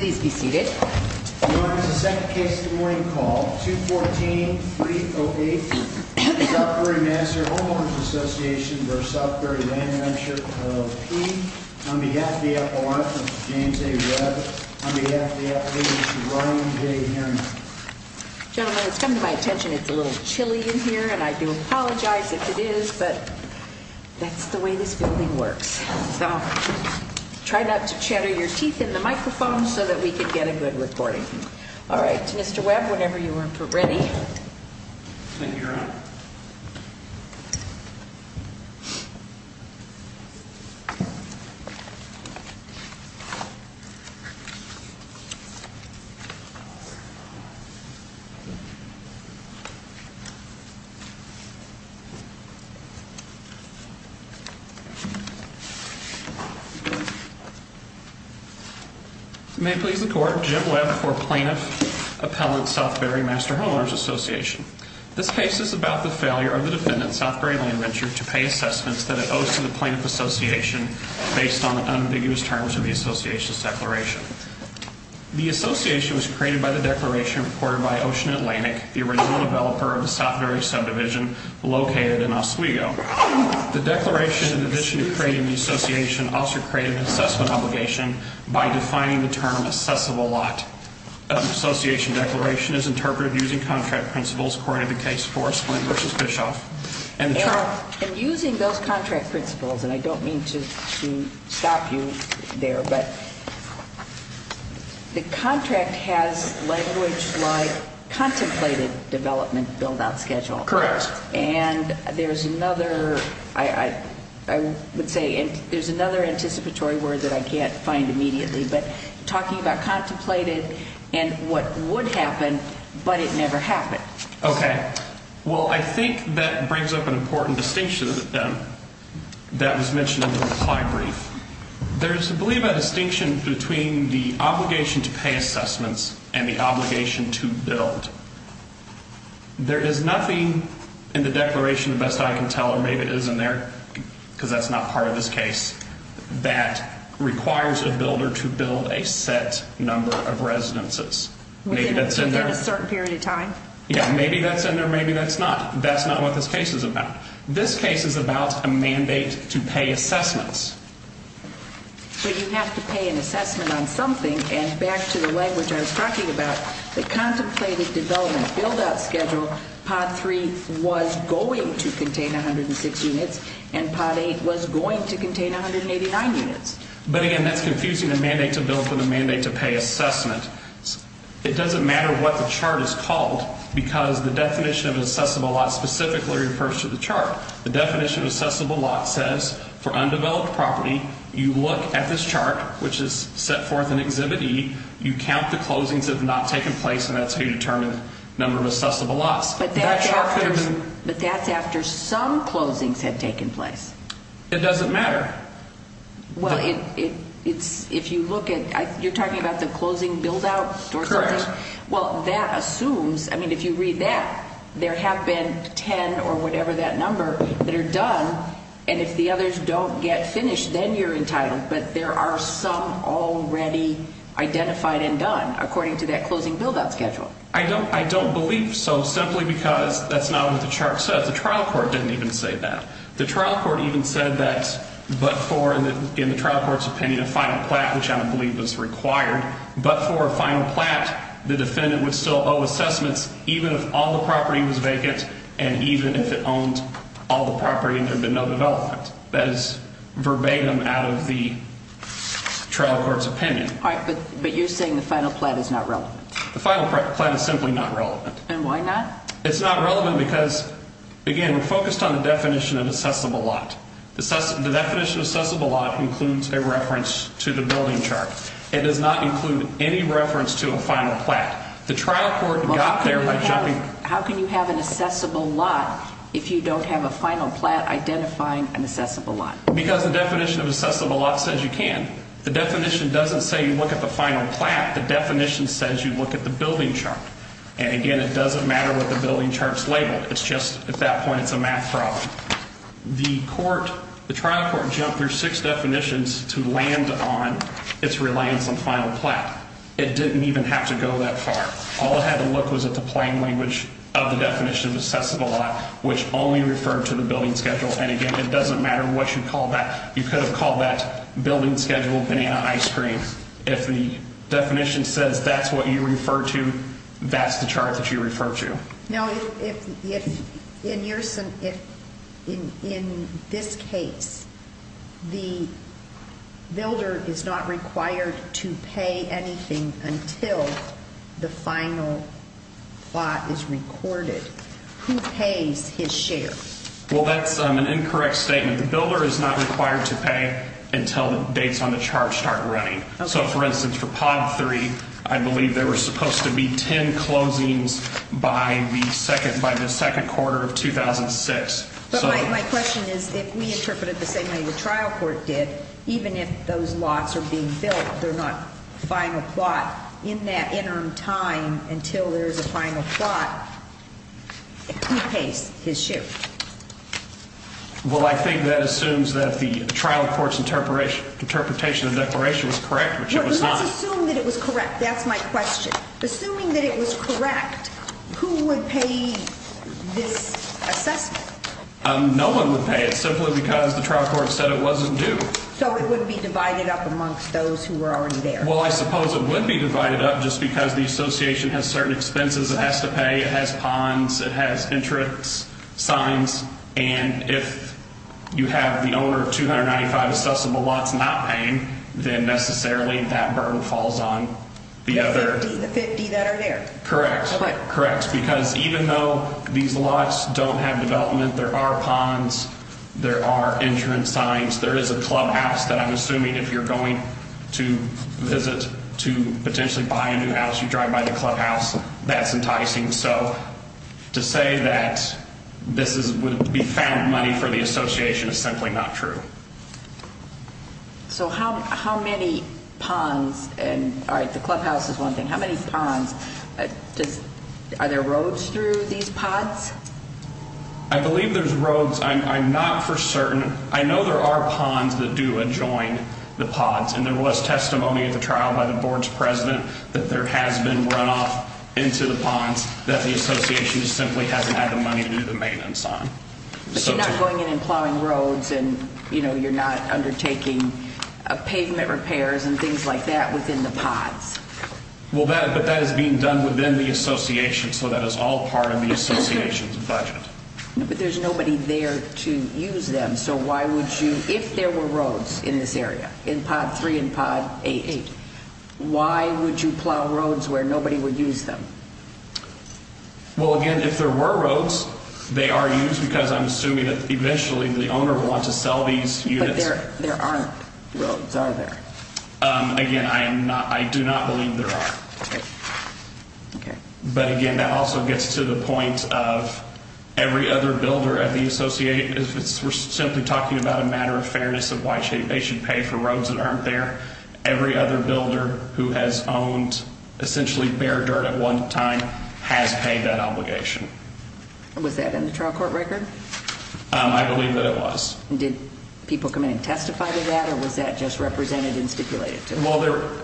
On behalf of the FOI, Mr. James A. Webb. On behalf of the FAA, Mr. Ryan J. Harriman. Gentlemen, it's come to my attention it's a little chilly in here and I do apologize if it is, but that's the way this building works. So try not to chatter your teeth in the microphone so that we can get a good recording. All right, Mr. Webb, whenever you are ready. Thank you, Your Honor. May it please the Court, Jim Webb for Plaintiff Appellant Southbury Master Homeowners' Association. This case is about the failure of the defendant, Southbury Land Venture, to pay assessments that it owes to the plaintiff's association based on unambiguous terms of the association's declaration. The association was created by the declaration reported by Ocean Atlantic, the original developer of the Southbury subdivision located in Oswego. The declaration, in addition to creating the association, also created an assessment obligation by defining the term assessable lot. The association declaration is interpreted using contract principles according to the case of Forest Point v. Bischoff. And using those contract principles, and I don't mean to stop you there, but the contract has language like contemplated development build-out schedule. Correct. And there's another, I would say, there's another anticipatory word that I can't find immediately, but talking about contemplated and what would happen, but it never happened. Okay. Well, I think that brings up an important distinction that was mentioned in the reply brief. There's, I believe, a distinction between the obligation to pay assessments and the obligation to build. There is nothing in the declaration, the best I can tell, or maybe it is in there because that's not part of this case, that requires a builder to build a set number of residences. Within a certain period of time? Yeah, maybe that's in there, maybe that's not. That's not what this case is about. This case is about a mandate to pay assessments. But you have to pay an assessment on something, and back to the language I was talking about, the contemplated development build-out schedule, Part 3 was going to contain 106 units, and Part 8 was going to contain 189 units. But again, that's confusing the mandate to build from the mandate to pay assessment. It doesn't matter what the chart is called because the definition of an assessable lot specifically refers to the chart. The definition of assessable lot says, for undeveloped property, you look at this chart, which is set forth in Exhibit E, you count the closings that have not taken place, and that's how you determine the number of assessable lots. But that's after some closings had taken place. It doesn't matter. Well, if you look at, you're talking about the closing build-out or something? Correct. Well, that assumes, I mean, if you read that, there have been 10 or whatever that number that are done, and if the others don't get finished, then you're entitled. But there are some already identified and done according to that closing build-out schedule. I don't believe so simply because that's not what the chart says. The trial court didn't even say that. The trial court even said that but for, in the trial court's opinion, a final plat, which I don't believe was required, but for a final plat, the defendant would still owe assessments even if all the property was vacant and even if it owned all the property and there had been no development. That is verbatim out of the trial court's opinion. All right, but you're saying the final plat is not relevant. The final plat is simply not relevant. And why not? It's not relevant because, again, we're focused on the definition of assessable lot. The definition of assessable lot includes a reference to the building chart. It does not include any reference to a final plat. The trial court got there by jumping. How can you have an assessable lot if you don't have a final plat identifying an assessable lot? Because the definition of assessable lot says you can. The definition doesn't say you look at the final plat. The definition says you look at the building chart. And, again, it doesn't matter what the building chart's labeled. It's just at that point it's a math problem. The trial court jumped through six definitions to land on its reliance on final plat. It didn't even have to go that far. All it had to look was at the plain language of the definition of assessable lot, which only referred to the building schedule. And, again, it doesn't matter what you call that. You could have called that building schedule banana ice cream. If the definition says that's what you refer to, that's the chart that you refer to. Now, if in this case the builder is not required to pay anything until the final plat is recorded, who pays his share? Well, that's an incorrect statement. The builder is not required to pay until the dates on the chart start running. So, for instance, for pod 3, I believe there were supposed to be ten closings by the second quarter of 2006. But my question is if we interpret it the same way the trial court did, even if those lots are being built, they're not final plat in that interim time until there's a final plat, who pays his share? Well, I think that assumes that the trial court's interpretation of the declaration was correct, which it was not. Let's assume that it was correct. That's my question. Assuming that it was correct, who would pay this assessment? No one would pay it simply because the trial court said it wasn't due. So it would be divided up amongst those who were already there. Well, I suppose it would be divided up just because the association has certain expenses it has to pay. It has ponds. It has entrance signs. And if you have the owner of 295 assessable lots not paying, then necessarily that burden falls on the other. The 50 that are there. Correct. Correct. Because even though these lots don't have development, there are ponds. There are entrance signs. There is a clubhouse that I'm assuming if you're going to visit to potentially buy a new house, you drive by the clubhouse. That's enticing. So to say that this would be found money for the association is simply not true. So how many ponds? All right, the clubhouse is one thing. How many ponds? Are there roads through these ponds? I believe there's roads. I'm not for certain. I know there are ponds that do adjoin the ponds. And there was testimony at the trial by the board's president that there has been runoff into the ponds that the association simply hasn't had the money to do the maintenance on. But you're not going in and plowing roads and, you know, you're not undertaking pavement repairs and things like that within the ponds. Well, that is being done within the association. So that is all part of the association's budget. But there's nobody there to use them. If there were roads in this area, in pod 3 and pod 8, why would you plow roads where nobody would use them? Well, again, if there were roads, they are used because I'm assuming that eventually the owner will want to sell these units. But there aren't roads, are there? Again, I do not believe there are. Okay. But, again, that also gets to the point of every other builder at the association, if we're simply talking about a matter of fairness of why they should pay for roads that aren't there, every other builder who has owned essentially bare dirt at one time has paid that obligation. Was that in the trial court record? I believe that it was. Did people come in and testify to that, or was that just represented and stipulated? Well,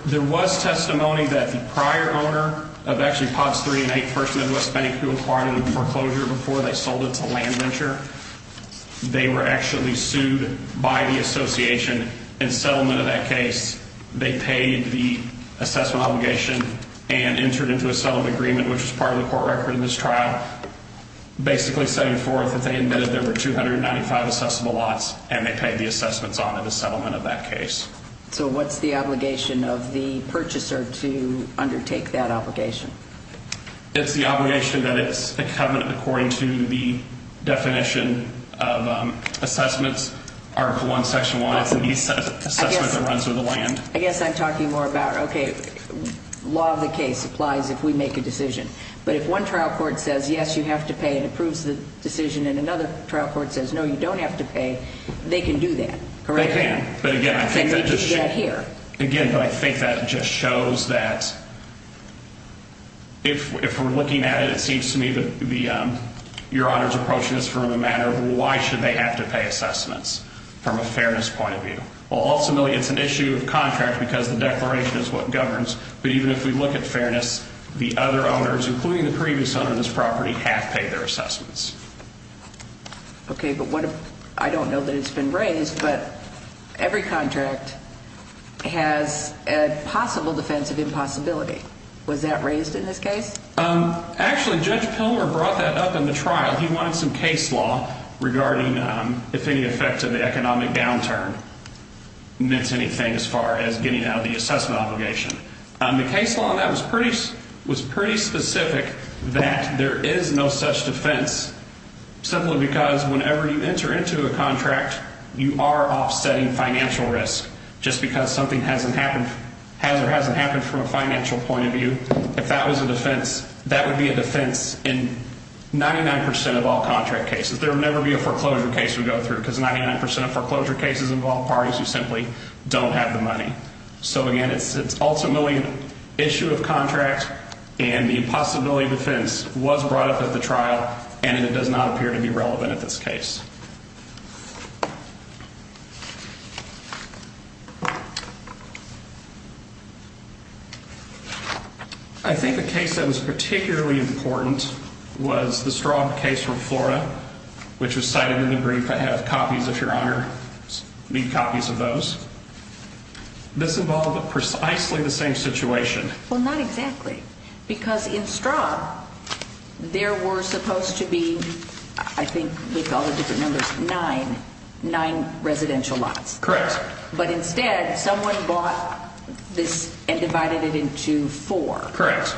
there was testimony that the prior owner of actually pods 3 and 8, First Midwest Bank, who acquired it in foreclosure before they sold it to LandVenture, they were actually sued by the association. In settlement of that case, they paid the assessment obligation and entered into a settlement agreement, which is part of the court record in this trial, basically setting forth that they admitted there were 295 assessable lots, and they paid the assessments on in the settlement of that case. So what's the obligation of the purchaser to undertake that obligation? It's the obligation that it's a covenant according to the definition of assessments. Article 1, section 1, it's the assessment that runs with the land. I guess I'm talking more about, okay, law of the case applies if we make a decision. But if one trial court says, yes, you have to pay and approves the decision, and another trial court says, no, you don't have to pay, they can do that, correct? They can. They need to get here. Again, but I think that just shows that if we're looking at it, it seems to me that your Honor is approaching this from the matter of why should they have to pay assessments from a fairness point of view. Well, ultimately, it's an issue of contract because the declaration is what governs. But even if we look at fairness, the other owners, including the previous owner of this property, have paid their assessments. Okay, but I don't know that it's been raised, but every contract has a possible defense of impossibility. Was that raised in this case? Actually, Judge Pilmer brought that up in the trial. He wanted some case law regarding if any effect of the economic downturn meant anything as far as getting out of the assessment obligation. The case law on that was pretty specific that there is no such defense simply because whenever you enter into a contract, you are offsetting financial risk. Just because something hasn't happened from a financial point of view, if that was a defense, that would be a defense in 99% of all contract cases. There would never be a foreclosure case we go through because 99% of foreclosure cases involve parties who simply don't have the money. So, again, it's ultimately an issue of contract, and the impossibility defense was brought up at the trial, and it does not appear to be relevant at this case. I think the case that was particularly important was the Straub case from Florida, which was cited in the brief. I have copies, if Your Honor, need copies of those. This involved precisely the same situation. Well, not exactly, because in Straub, there were supposed to be, I think with all the different numbers, nine residential lots. Correct. But instead, someone bought this and divided it into four. Correct.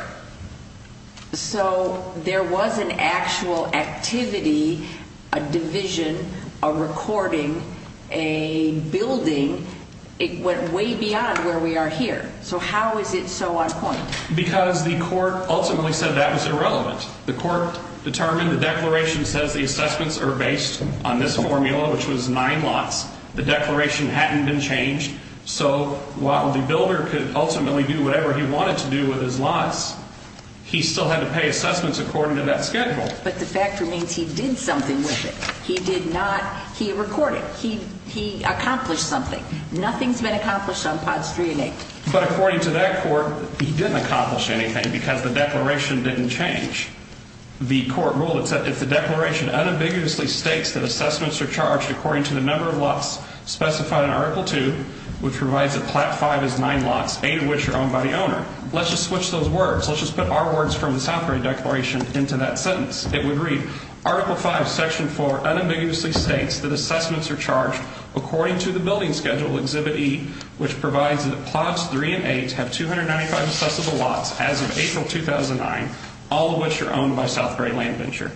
So there was an actual activity, a division, a recording, a building. It went way beyond where we are here. So how is it so on point? Because the court ultimately said that was irrelevant. The court determined the declaration says the assessments are based on this formula, which was nine lots. The declaration hadn't been changed. So while the builder could ultimately do whatever he wanted to do with his lots, he still had to pay assessments according to that schedule. But the fact remains he did something with it. He did not. He recorded. He accomplished something. Nothing's been accomplished on POTS 3 and 8. But according to that court, he didn't accomplish anything because the declaration didn't change. The court ruled that if the declaration unambiguously states that assessments are charged according to the number of lots specified in Article 2, which provides that Platte 5 is nine lots, eight of which are owned by the owner. Let's just switch those words. Let's just put our words from the Southbury Declaration into that sentence. It would read, Article 5, Section 4, unambiguously states that assessments are charged according to the building schedule, Exhibit E, which provides that POTS 3 and 8 have 295 assessable lots as of April 2009, all of which are owned by Southbury Land Venture.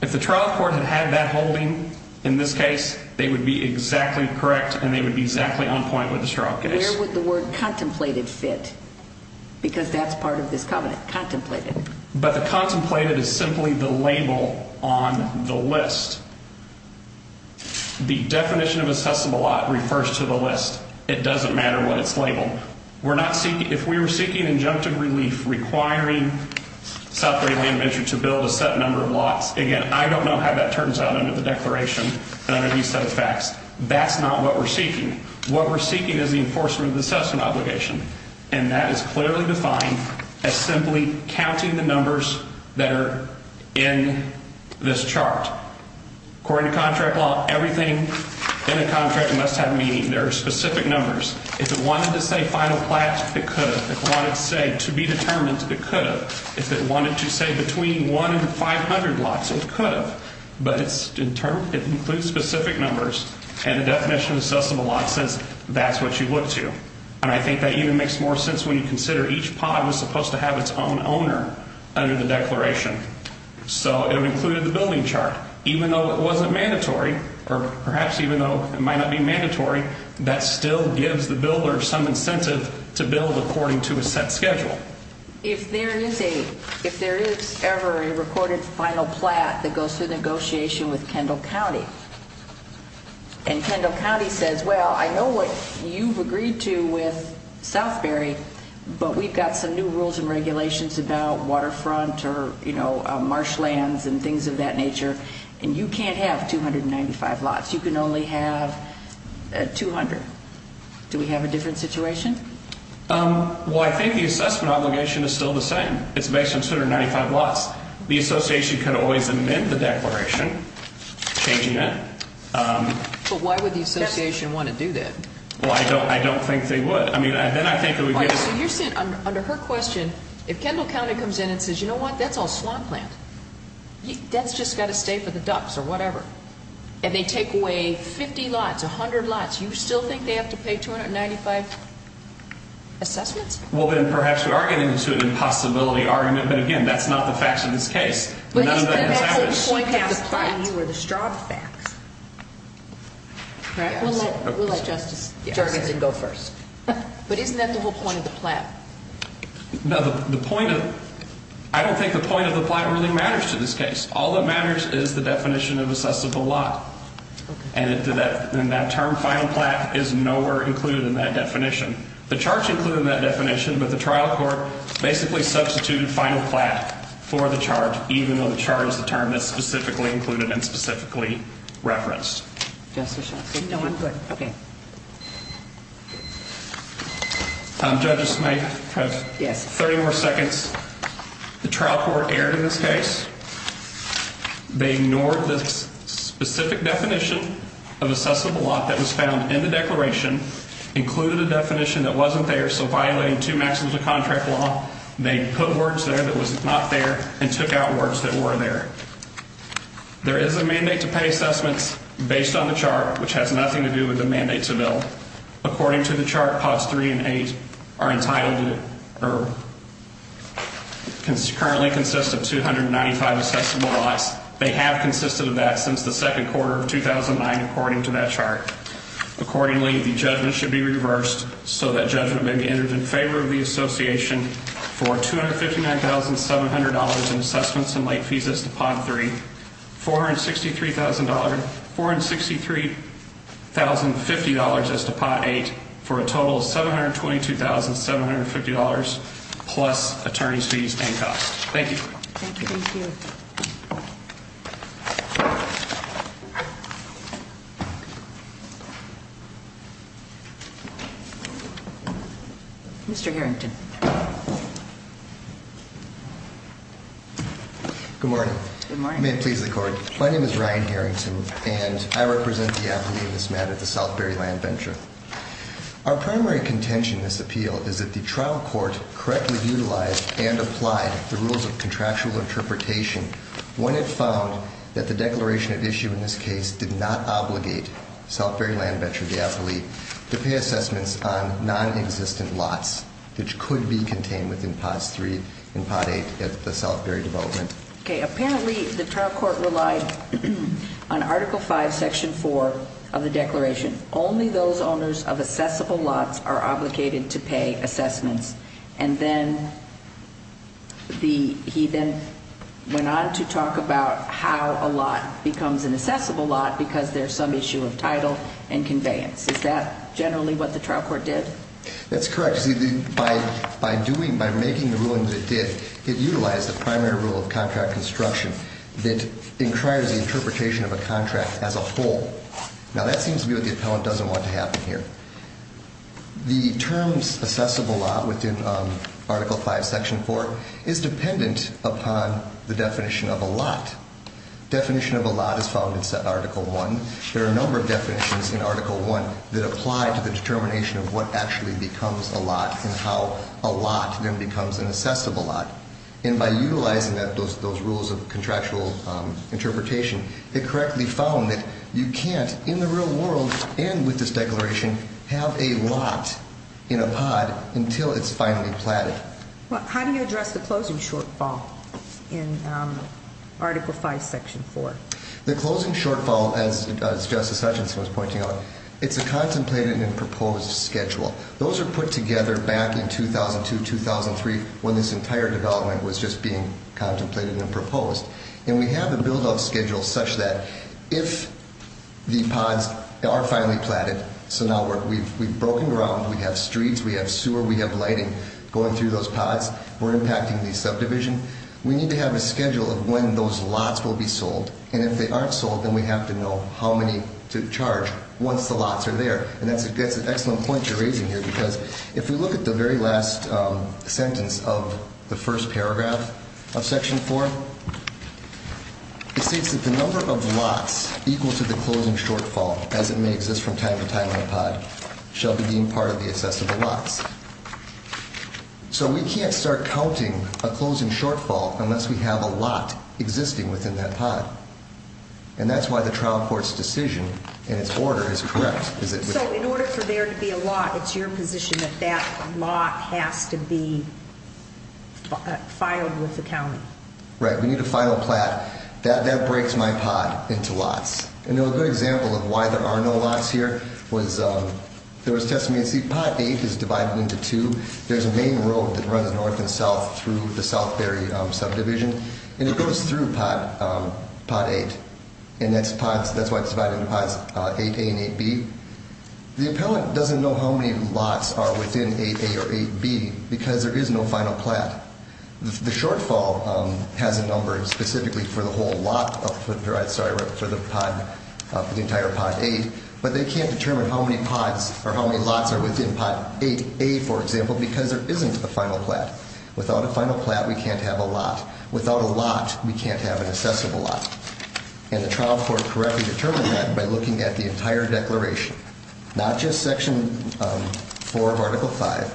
If the trial court had had that holding in this case, they would be exactly correct, and they would be exactly on point with this trial case. Where would the word contemplated fit? Because that's part of this covenant, contemplated. But the contemplated is simply the label on the list. The definition of assessable lot refers to the list. It doesn't matter what it's labeled. If we were seeking injunctive relief requiring Southbury Land Venture to build a set number of lots, again, I don't know how that turns out under the declaration and under these set of facts. That's not what we're seeking. What we're seeking is the enforcement of the assessment obligation, and that is clearly defined as simply counting the numbers that are in this chart. According to contract law, everything in a contract must have meaning. There are specific numbers. If it wanted to say final plats, it could have. If it wanted to say to be determined, it could have. If it wanted to say between 1 and 500 lots, it could have. But it includes specific numbers, and the definition of assessable lot says that's what you look to. And I think that even makes more sense when you consider each pod was supposed to have its own owner under the declaration. So it included the building chart. Even though it wasn't mandatory, or perhaps even though it might not be mandatory, that still gives the builder some incentive to build according to a set schedule. If there is ever a recorded final plat that goes through negotiation with Kendall County, and Kendall County says, well, I know what you've agreed to with Southbury, but we've got some new rules and regulations about waterfront or marshlands and things of that nature, and you can't have 295 lots. You can only have 200. Do we have a different situation? Well, I think the assessment obligation is still the same. It's based on 295 lots. The association could always amend the declaration, changing it. But why would the association want to do that? Well, I don't think they would. Under her question, if Kendall County comes in and says, you know what, that's all swamp land. That's just got to stay for the ducks or whatever. And they take away 50 lots, 100 lots, you still think they have to pay 295 assessments? Well, then perhaps we are getting into an impossibility argument. But, again, that's not the facts of this case. But isn't that the whole point of the plat? I don't think the point of the plat really matters to this case. All that matters is the definition of assessable lot. And that term, final plat, is nowhere included in that definition. The charge is included in that definition, but the trial court basically substituted final plat for the charge, even though it's not included in that definition. Even though the charge is the term that's specifically included and specifically referenced. Justice Schultz? No, I'm good. Okay. Judge Smith? Yes. 30 more seconds. The trial court erred in this case. They ignored the specific definition of assessable lot that was found in the declaration, included a definition that wasn't there, so violating two maxims of contract law. They put words there that was not there and took out words that were there. There is a mandate to pay assessments based on the chart, which has nothing to do with the mandate to bill. According to the chart, pots 3 and 8 are entitled to or currently consist of 295 assessable lots. They have consisted of that since the second quarter of 2009, according to that chart. Accordingly, the judgment should be reversed so that judgment may be entered in favor of the association for $259,700 in assessments and late fees as to pot 3. $463,050 as to pot 8 for a total of $722,750 plus attorney's fees and costs. Thank you. Thank you. Mr. Harrington. Good morning. Good morning. May it please the court. My name is Ryan Harrington, and I represent the appellee in this matter, the Southbury Land Venture. Our primary contention in this appeal is that the trial court correctly utilized and applied the rules of contractual interpretation when it found that the declaration at issue in this case did not obligate Southbury Land Venture. The appellee to pay assessments on non-existent lots, which could be contained within pots 3 and pot 8 at the Southbury development. Okay. Apparently, the trial court relied on Article 5, Section 4 of the declaration. Only those owners of assessable lots are obligated to pay assessments. And then he then went on to talk about how a lot becomes an assessable lot because there's some issue of title and conveyance. Is that generally what the trial court did? That's correct. By doing, by making the ruling that it did, it utilized the primary rule of contract construction that inquires the interpretation of a contract as a whole. Now, that seems to be what the appellant doesn't want to happen here. The terms assessable lot within Article 5, Section 4 is dependent upon the definition of a lot. Definition of a lot is found in Article 1. There are a number of definitions in Article 1 that apply to the determination of what actually becomes a lot and how a lot then becomes an assessable lot. And by utilizing those rules of contractual interpretation, it correctly found that you can't, in the real world and with this declaration, have a lot in a pot until it's finally platted. How do you address the closing shortfall in Article 5, Section 4? The closing shortfall, as Justice Hutchinson was pointing out, it's a contemplated and proposed schedule. Those are put together back in 2002, 2003, when this entire development was just being contemplated and proposed. And we have a buildup schedule such that if the pods are finally platted, so now we've broken ground, we have streets, we have sewer, we have lighting going through those pods, we're impacting the subdivision. We need to have a schedule of when those lots will be sold. And if they aren't sold, then we have to know how many to charge once the lots are there. And that's an excellent point you're raising here because if we look at the very last sentence of the first paragraph of Section 4, it states that the number of lots equal to the closing shortfall, as it may exist from time to time in a pod, shall be deemed part of the assessable lots. So we can't start counting a closing shortfall unless we have a lot existing within that pod. And that's why the trial court's decision in its order is correct. So in order for there to be a lot, it's your position that that lot has to be filed with the county? Right. We need a final plat. That breaks my pod into lots. And a good example of why there are no lots here was there was testimony. See, Pod 8 is divided into two. There's a main road that runs north and south through the Southberry subdivision, and it goes through Pod 8. And that's why it's divided into Pods 8A and 8B. The appellant doesn't know how many lots are within 8A or 8B because there is no final plat. The shortfall has a number specifically for the entire Pod 8, but they can't determine how many lots are within Pod 8A, for example, because there isn't a final plat. Without a final plat, we can't have a lot. Without a lot, we can't have an assessable lot. And the trial court correctly determined that by looking at the entire declaration. Not just Section 4 of Article 5,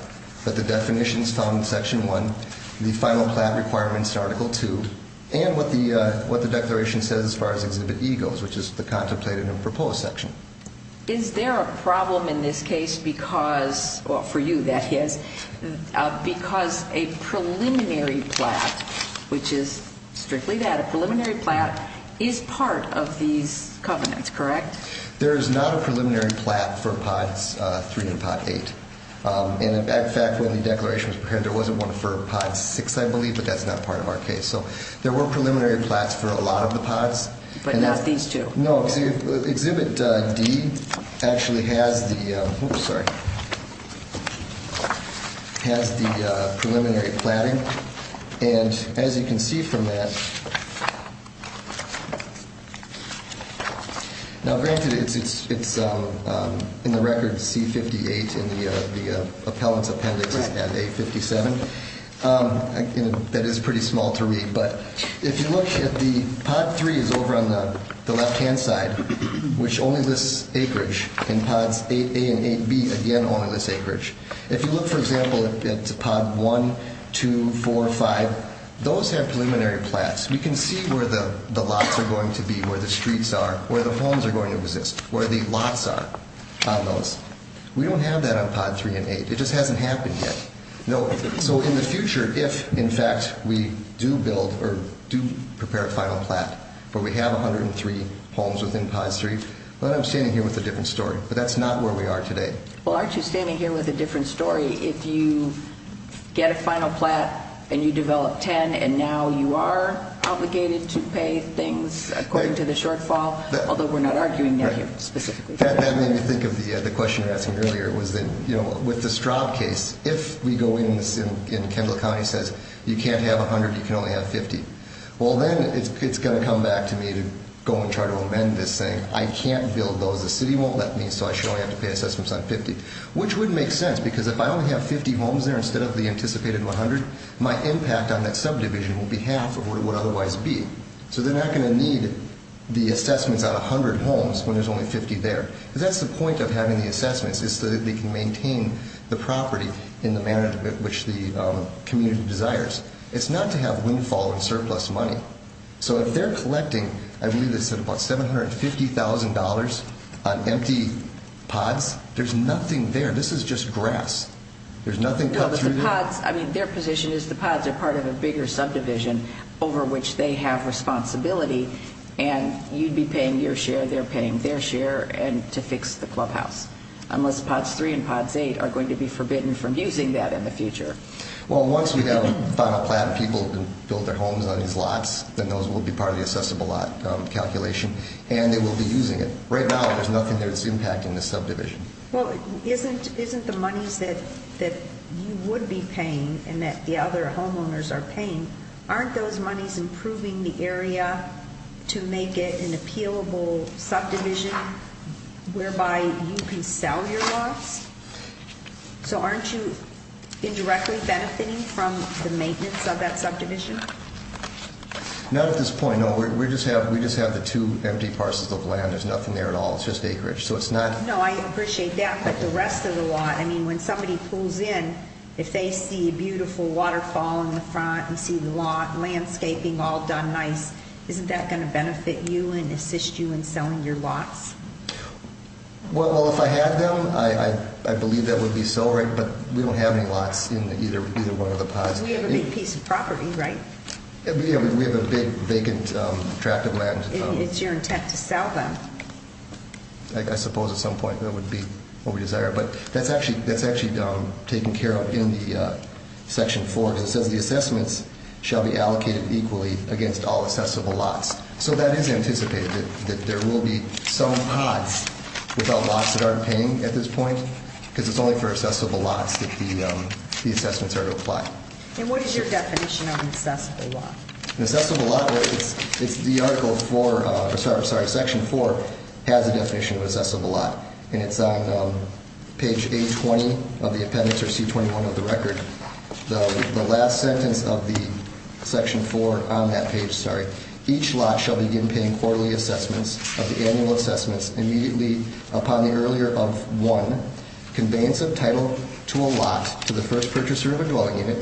but the definitions found in Section 1, the final plat requirements in Article 2, and what the declaration says as far as Exhibit E goes, which is the contemplated and proposed section. Is there a problem in this case because, well, for you, that is, because a preliminary plat, which is strictly that, a preliminary plat is part of these covenants, correct? There is not a preliminary plat for Pods 3 and Pod 8. And, in fact, when the declaration was prepared, there wasn't one for Pod 6, I believe, but that's not part of our case. So there were preliminary plats for a lot of the pods. But not these two? No, Exhibit D actually has the preliminary platting. And, as you can see from that, now, granted, it's in the record C-58 in the appellant's appendix at A-57. That is pretty small to read, but if you look at the, Pod 3 is over on the left-hand side, which only lists acreage. And Pods 8A and 8B, again, only list acreage. If you look, for example, at Pod 1, 2, 4, 5, those have preliminary plats. We can see where the lots are going to be, where the streets are, where the homes are going to exist, where the lots are on those. We don't have that on Pod 3 and 8. It just hasn't happened yet. No, so in the future, if, in fact, we do build or do prepare a final plat where we have 103 homes within Pod 3, well, then I'm standing here with a different story. But that's not where we are today. Well, aren't you standing here with a different story if you get a final plat and you develop 10, and now you are obligated to pay things according to the shortfall, although we're not arguing that here specifically? That made me think of the question you were asking earlier, was that, you know, with the Straub case, if we go in and Kendall County says you can't have 100, you can only have 50, well, then it's going to come back to me to go and try to amend this, saying I can't build those, the city won't let me, so I should only have to pay assessments on 50, which would make sense, because if I only have 50 homes there instead of the anticipated 100, my impact on that subdivision will be half of what it would otherwise be. So they're not going to need the assessments on 100 homes when there's only 50 there. Because that's the point of having the assessments, is so that they can maintain the property in the manner in which the community desires. It's not to have windfall and surplus money. So if they're collecting, I believe they said about $750,000 on empty pods, there's nothing there. This is just grass. There's nothing cut through there. I mean, their position is the pods are part of a bigger subdivision over which they have responsibility, and you'd be paying your share, they're paying their share to fix the clubhouse, unless pods 3 and pods 8 are going to be forbidden from using that in the future. Well, once we have a final plan, people can build their homes on these lots, then those will be part of the assessable lot calculation, and they will be using it. Right now, there's nothing there that's impacting the subdivision. Well, isn't the monies that you would be paying and that the other homeowners are paying, aren't those monies improving the area to make it an appealable subdivision whereby you can sell your lots? So aren't you indirectly benefiting from the maintenance of that subdivision? Not at this point, no. We just have the two empty parcels of land. There's nothing there at all. It's just acreage. No, I appreciate that, but the rest of the lot, I mean, when somebody pulls in, if they see a beautiful waterfall in the front and see the landscaping all done nice, isn't that going to benefit you and assist you in selling your lots? Well, if I had them, I believe that would be so, but we don't have any lots in either one of the pods. Because we have a big piece of property, right? We have a big vacant tract of land. It's your intent to sell them. I suppose at some point that would be what we desire. But that's actually taken care of in the Section 4, because it says the assessments shall be allocated equally against all assessable lots. So that is anticipated, that there will be some pods without lots that aren't paying at this point, because it's only for assessable lots that the assessments are to apply. And what is your definition of an assessable lot? An assessable lot, it's the Article 4, sorry, Section 4 has a definition of an assessable lot, and it's on page A20 of the appendix or C21 of the record. The last sentence of the Section 4 on that page, sorry, each lot shall begin paying quarterly assessments of the annual assessments immediately upon the earlier of 1, conveyance of title to a lot to the first purchaser of a dwelling unit,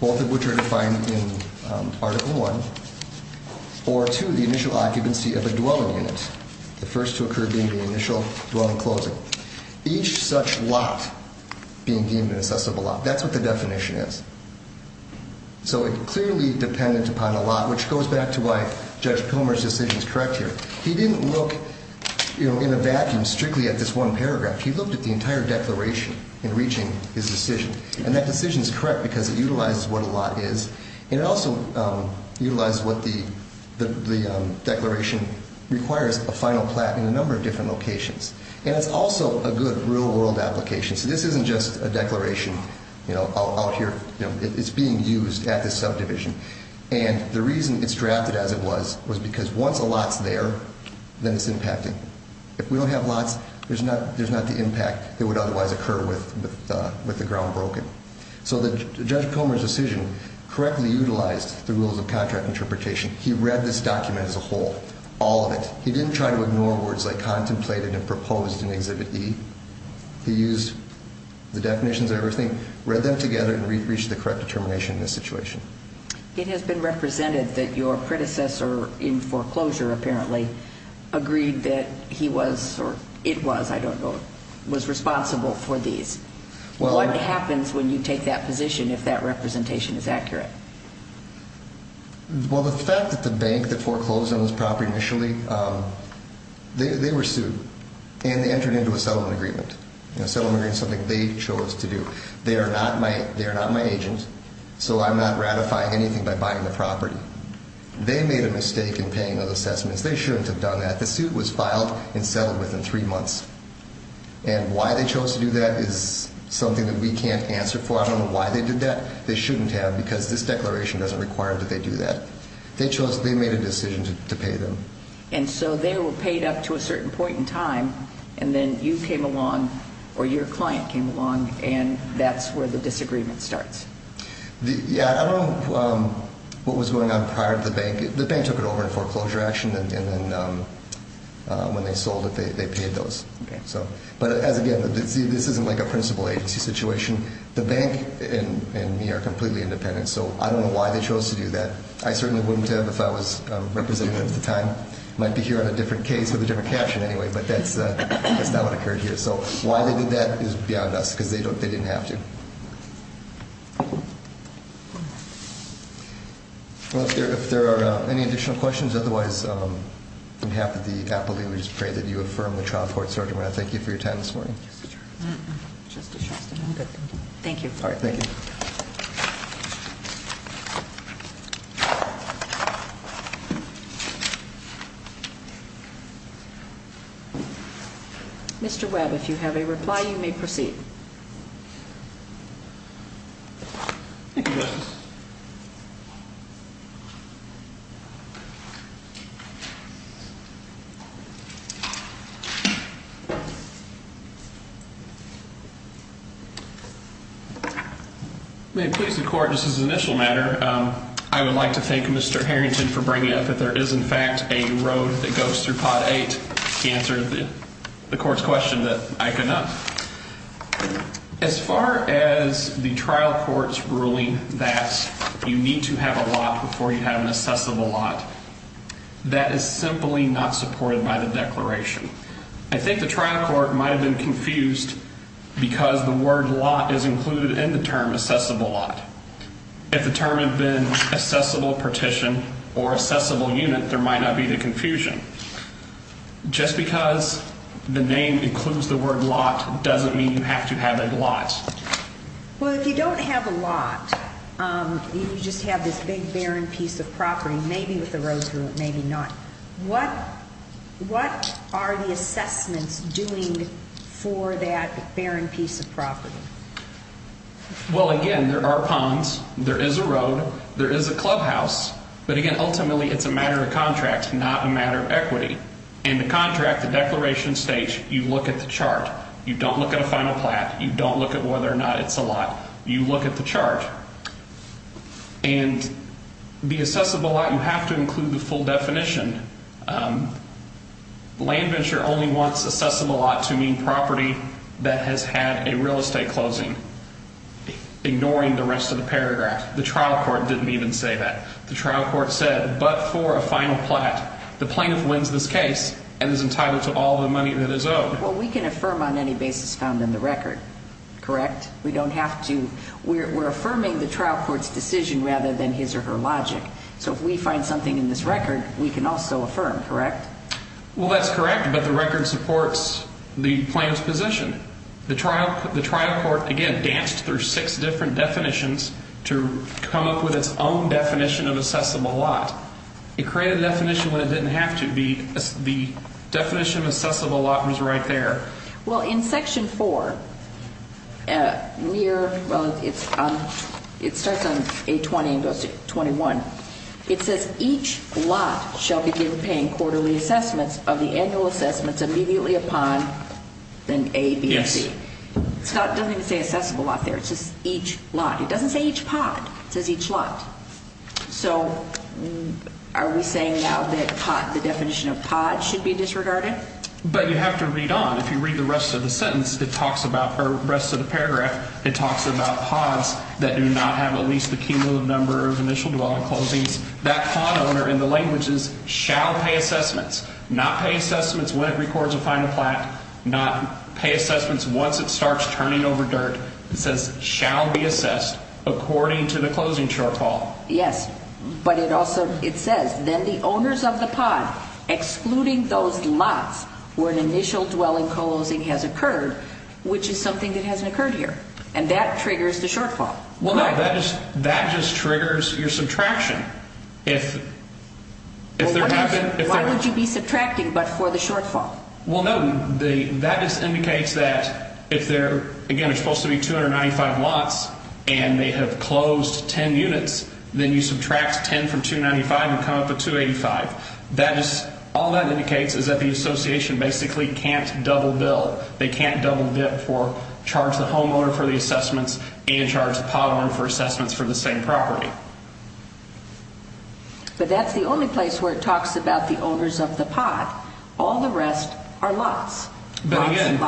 both of which are defined in Article 1, or to the initial occupancy of a dwelling unit, the first to occur being the initial dwelling closing. Each such lot being deemed an assessable lot. That's what the definition is. So it's clearly dependent upon a lot, which goes back to why Judge Pomer's decision is correct here. He didn't look, you know, in a vacuum strictly at this one paragraph. He looked at the entire declaration in reaching his decision. And that decision is correct because it utilizes what a lot is, and it also utilizes what the declaration requires, a final plat in a number of different locations. And it's also a good real-world application. So this isn't just a declaration, you know, out here. It's being used at this subdivision. And the reason it's drafted as it was was because once a lot's there, then it's impacting. If we don't have lots, there's not the impact that would otherwise occur with the ground broken. So Judge Pomer's decision correctly utilized the rules of contract interpretation. He read this document as a whole, all of it. He didn't try to ignore words like contemplated and proposed in Exhibit E. He used the definitions of everything, read them together, and reached the correct determination in this situation. It has been represented that your predecessor in foreclosure, apparently, agreed that he was, or it was, I don't know, was responsible for these. What happens when you take that position if that representation is accurate? Well, the fact that the bank that foreclosed on this property initially, they were sued. And they entered into a settlement agreement, a settlement agreement, something they chose to do. They are not my agent, so I'm not ratifying anything by buying the property. They made a mistake in paying those assessments. They shouldn't have done that. The suit was filed and settled within three months. And why they chose to do that is something that we can't answer for. I don't know why they did that. They shouldn't have because this declaration doesn't require that they do that. They chose, they made a decision to pay them. And so they were paid up to a certain point in time, and then you came along, or your client came along, and that's where the disagreement starts. Yeah, I don't know what was going on prior to the bank. The bank took it over in foreclosure action, and then when they sold it, they paid those. Okay. But, as again, this isn't like a principal agency situation. The bank and me are completely independent, so I don't know why they chose to do that. I certainly wouldn't have if I was representative at the time. I might be here on a different case with a different caption anyway, but that's not what occurred here. So why they did that is beyond us because they didn't have to. Well, if there are any additional questions, otherwise, on behalf of the appellee, we just pray that you affirm the trial court, Sergeant. We want to thank you for your time this morning. Thank you. All right, thank you. Mr. Webb, if you have a reply, you may proceed. May it please the court, just as an initial matter, I would like to thank Mr. Harrington for bringing up that there is, in fact, a road that goes through Pot 8 to answer the court's question that I could not. As far as the trial court's ruling that you need to have a lot before you have an assessable lot, that is simply not supported by the declaration. I think the trial court might have been confused because the word lot is included in the term assessable lot. If the term had been assessable partition or assessable unit, there might not be the confusion. Just because the name includes the word lot doesn't mean you have to have a lot. Well, if you don't have a lot, you just have this big barren piece of property, maybe with a road through it, maybe not. What are the assessments doing for that barren piece of property? Well, again, there are ponds. There is a road. There is a clubhouse. But, again, ultimately, it's a matter of contract, not a matter of equity. In the contract, the declaration states you look at the chart. You don't look at a final plat. You don't look at whether or not it's a lot. You look at the chart. And the assessable lot, you have to include the full definition. Land Venture only wants assessable lot to mean property that has had a real estate closing, ignoring the rest of the paragraph. The trial court didn't even say that. The trial court said, but for a final plat. The plaintiff wins this case and is entitled to all the money that is owed. Well, we can affirm on any basis found in the record, correct? We don't have to. We're affirming the trial court's decision rather than his or her logic. So if we find something in this record, we can also affirm, correct? Well, that's correct, but the record supports the plaintiff's position. The trial court, again, danced through six different definitions to come up with its own definition of assessable lot. It created a definition when it didn't have to. The definition of assessable lot was right there. Well, in Section 4, it starts on A20 and goes to 21. It says, each lot shall be given paying quarterly assessments of the annual assessments immediately upon an A, B, and C. It doesn't even say assessable lot there. It says each lot. It doesn't say each pot. It says each lot. So are we saying now that the definition of pot should be disregarded? But you have to read on. If you read the rest of the sentence, it talks about the rest of the paragraph. It talks about pots that do not have at least the cumulative number of initial dwelling closings. That pot owner in the language is shall pay assessments, not pay assessments when it records a final plat, not pay assessments once it starts turning over dirt. It says shall be assessed according to the closing shortfall. Yes, but it also says then the owners of the pot excluding those lots where an initial dwelling closing has occurred, which is something that hasn't occurred here, and that triggers the shortfall. Well, no, that just triggers your subtraction. Why would you be subtracting but for the shortfall? Well, no, that just indicates that if there, again, are supposed to be 295 lots and they have closed 10 units, then you subtract 10 from 295 and come up with 285. All that indicates is that the association basically can't double bill. They can't double dip for charge the homeowner for the assessments and charge the pot owner for assessments for the same property. But that's the only place where it talks about the owners of the pot. All the rest are lots. But again,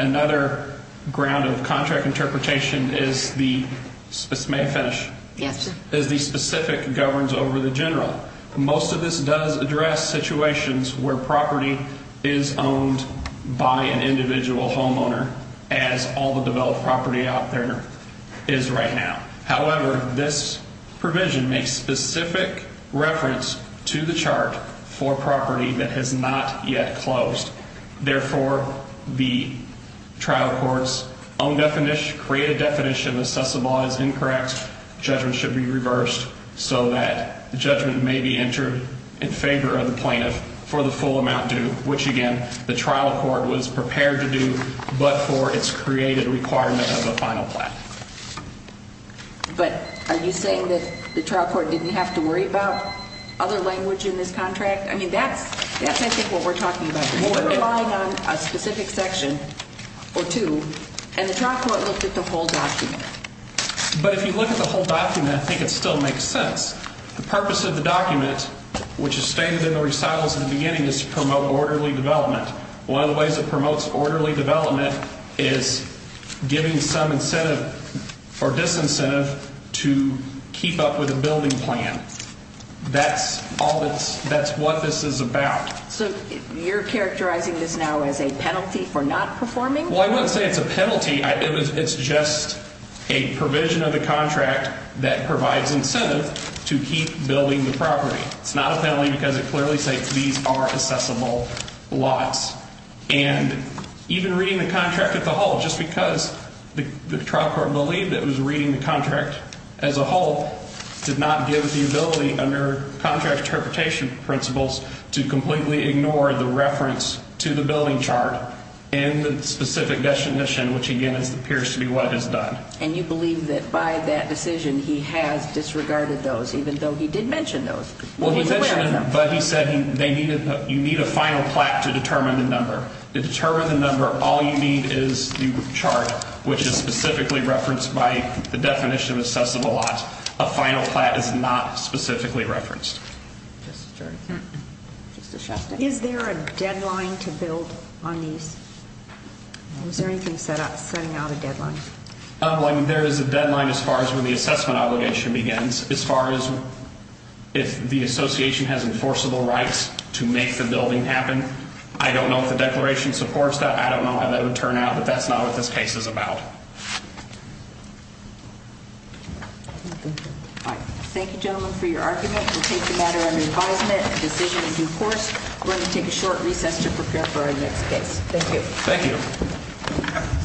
another ground of contract interpretation is the specific governs over the general. Most of this does address situations where property is owned by an individual homeowner as all the developed property out there is right now. However, this provision makes specific reference to the chart for property that has not yet closed. Therefore, the trial court's own definition, created definition of assessable is incorrect. Judgment should be reversed so that the judgment may be entered in favor of the plaintiff for the full amount due, which, again, the trial court was prepared to do but for its created requirement of the final plan. But are you saying that the trial court didn't have to worry about other language in this contract? I mean, that's, I think, what we're talking about. We're relying on a specific section or two, and the trial court looked at the whole document. But if you look at the whole document, I think it still makes sense. The purpose of the document, which is stated in the recitals in the beginning, is to promote orderly development. One of the ways it promotes orderly development is giving some incentive or disincentive to keep up with a building plan. That's what this is about. So you're characterizing this now as a penalty for not performing? Well, I wouldn't say it's a penalty. It's just a provision of the contract that provides incentive to keep building the property. It's not a penalty because it clearly states these are accessible lots. And even reading the contract as a whole, just because the trial court believed it was reading the contract as a whole, did not give the ability under contract interpretation principles to completely ignore the reference to the building chart and the specific definition, which, again, appears to be what it has done. And you believe that by that decision he has disregarded those, even though he did mention those? Well, he mentioned them, but he said you need a final plat to determine the number. To determine the number, all you need is the chart, which is specifically referenced by the definition of accessible lots. A final plat is not specifically referenced. Is there a deadline to build on these? Is there anything setting out a deadline? There is a deadline as far as when the assessment obligation begins. As far as if the association has enforceable rights to make the building happen, I don't know if the declaration supports that. I don't know how that would turn out, but that's not what this case is about. Thank you, gentlemen, for your argument. We'll take the matter under advisement. The decision is in force. We're going to take a short recess to prepare for our next case. Thank you.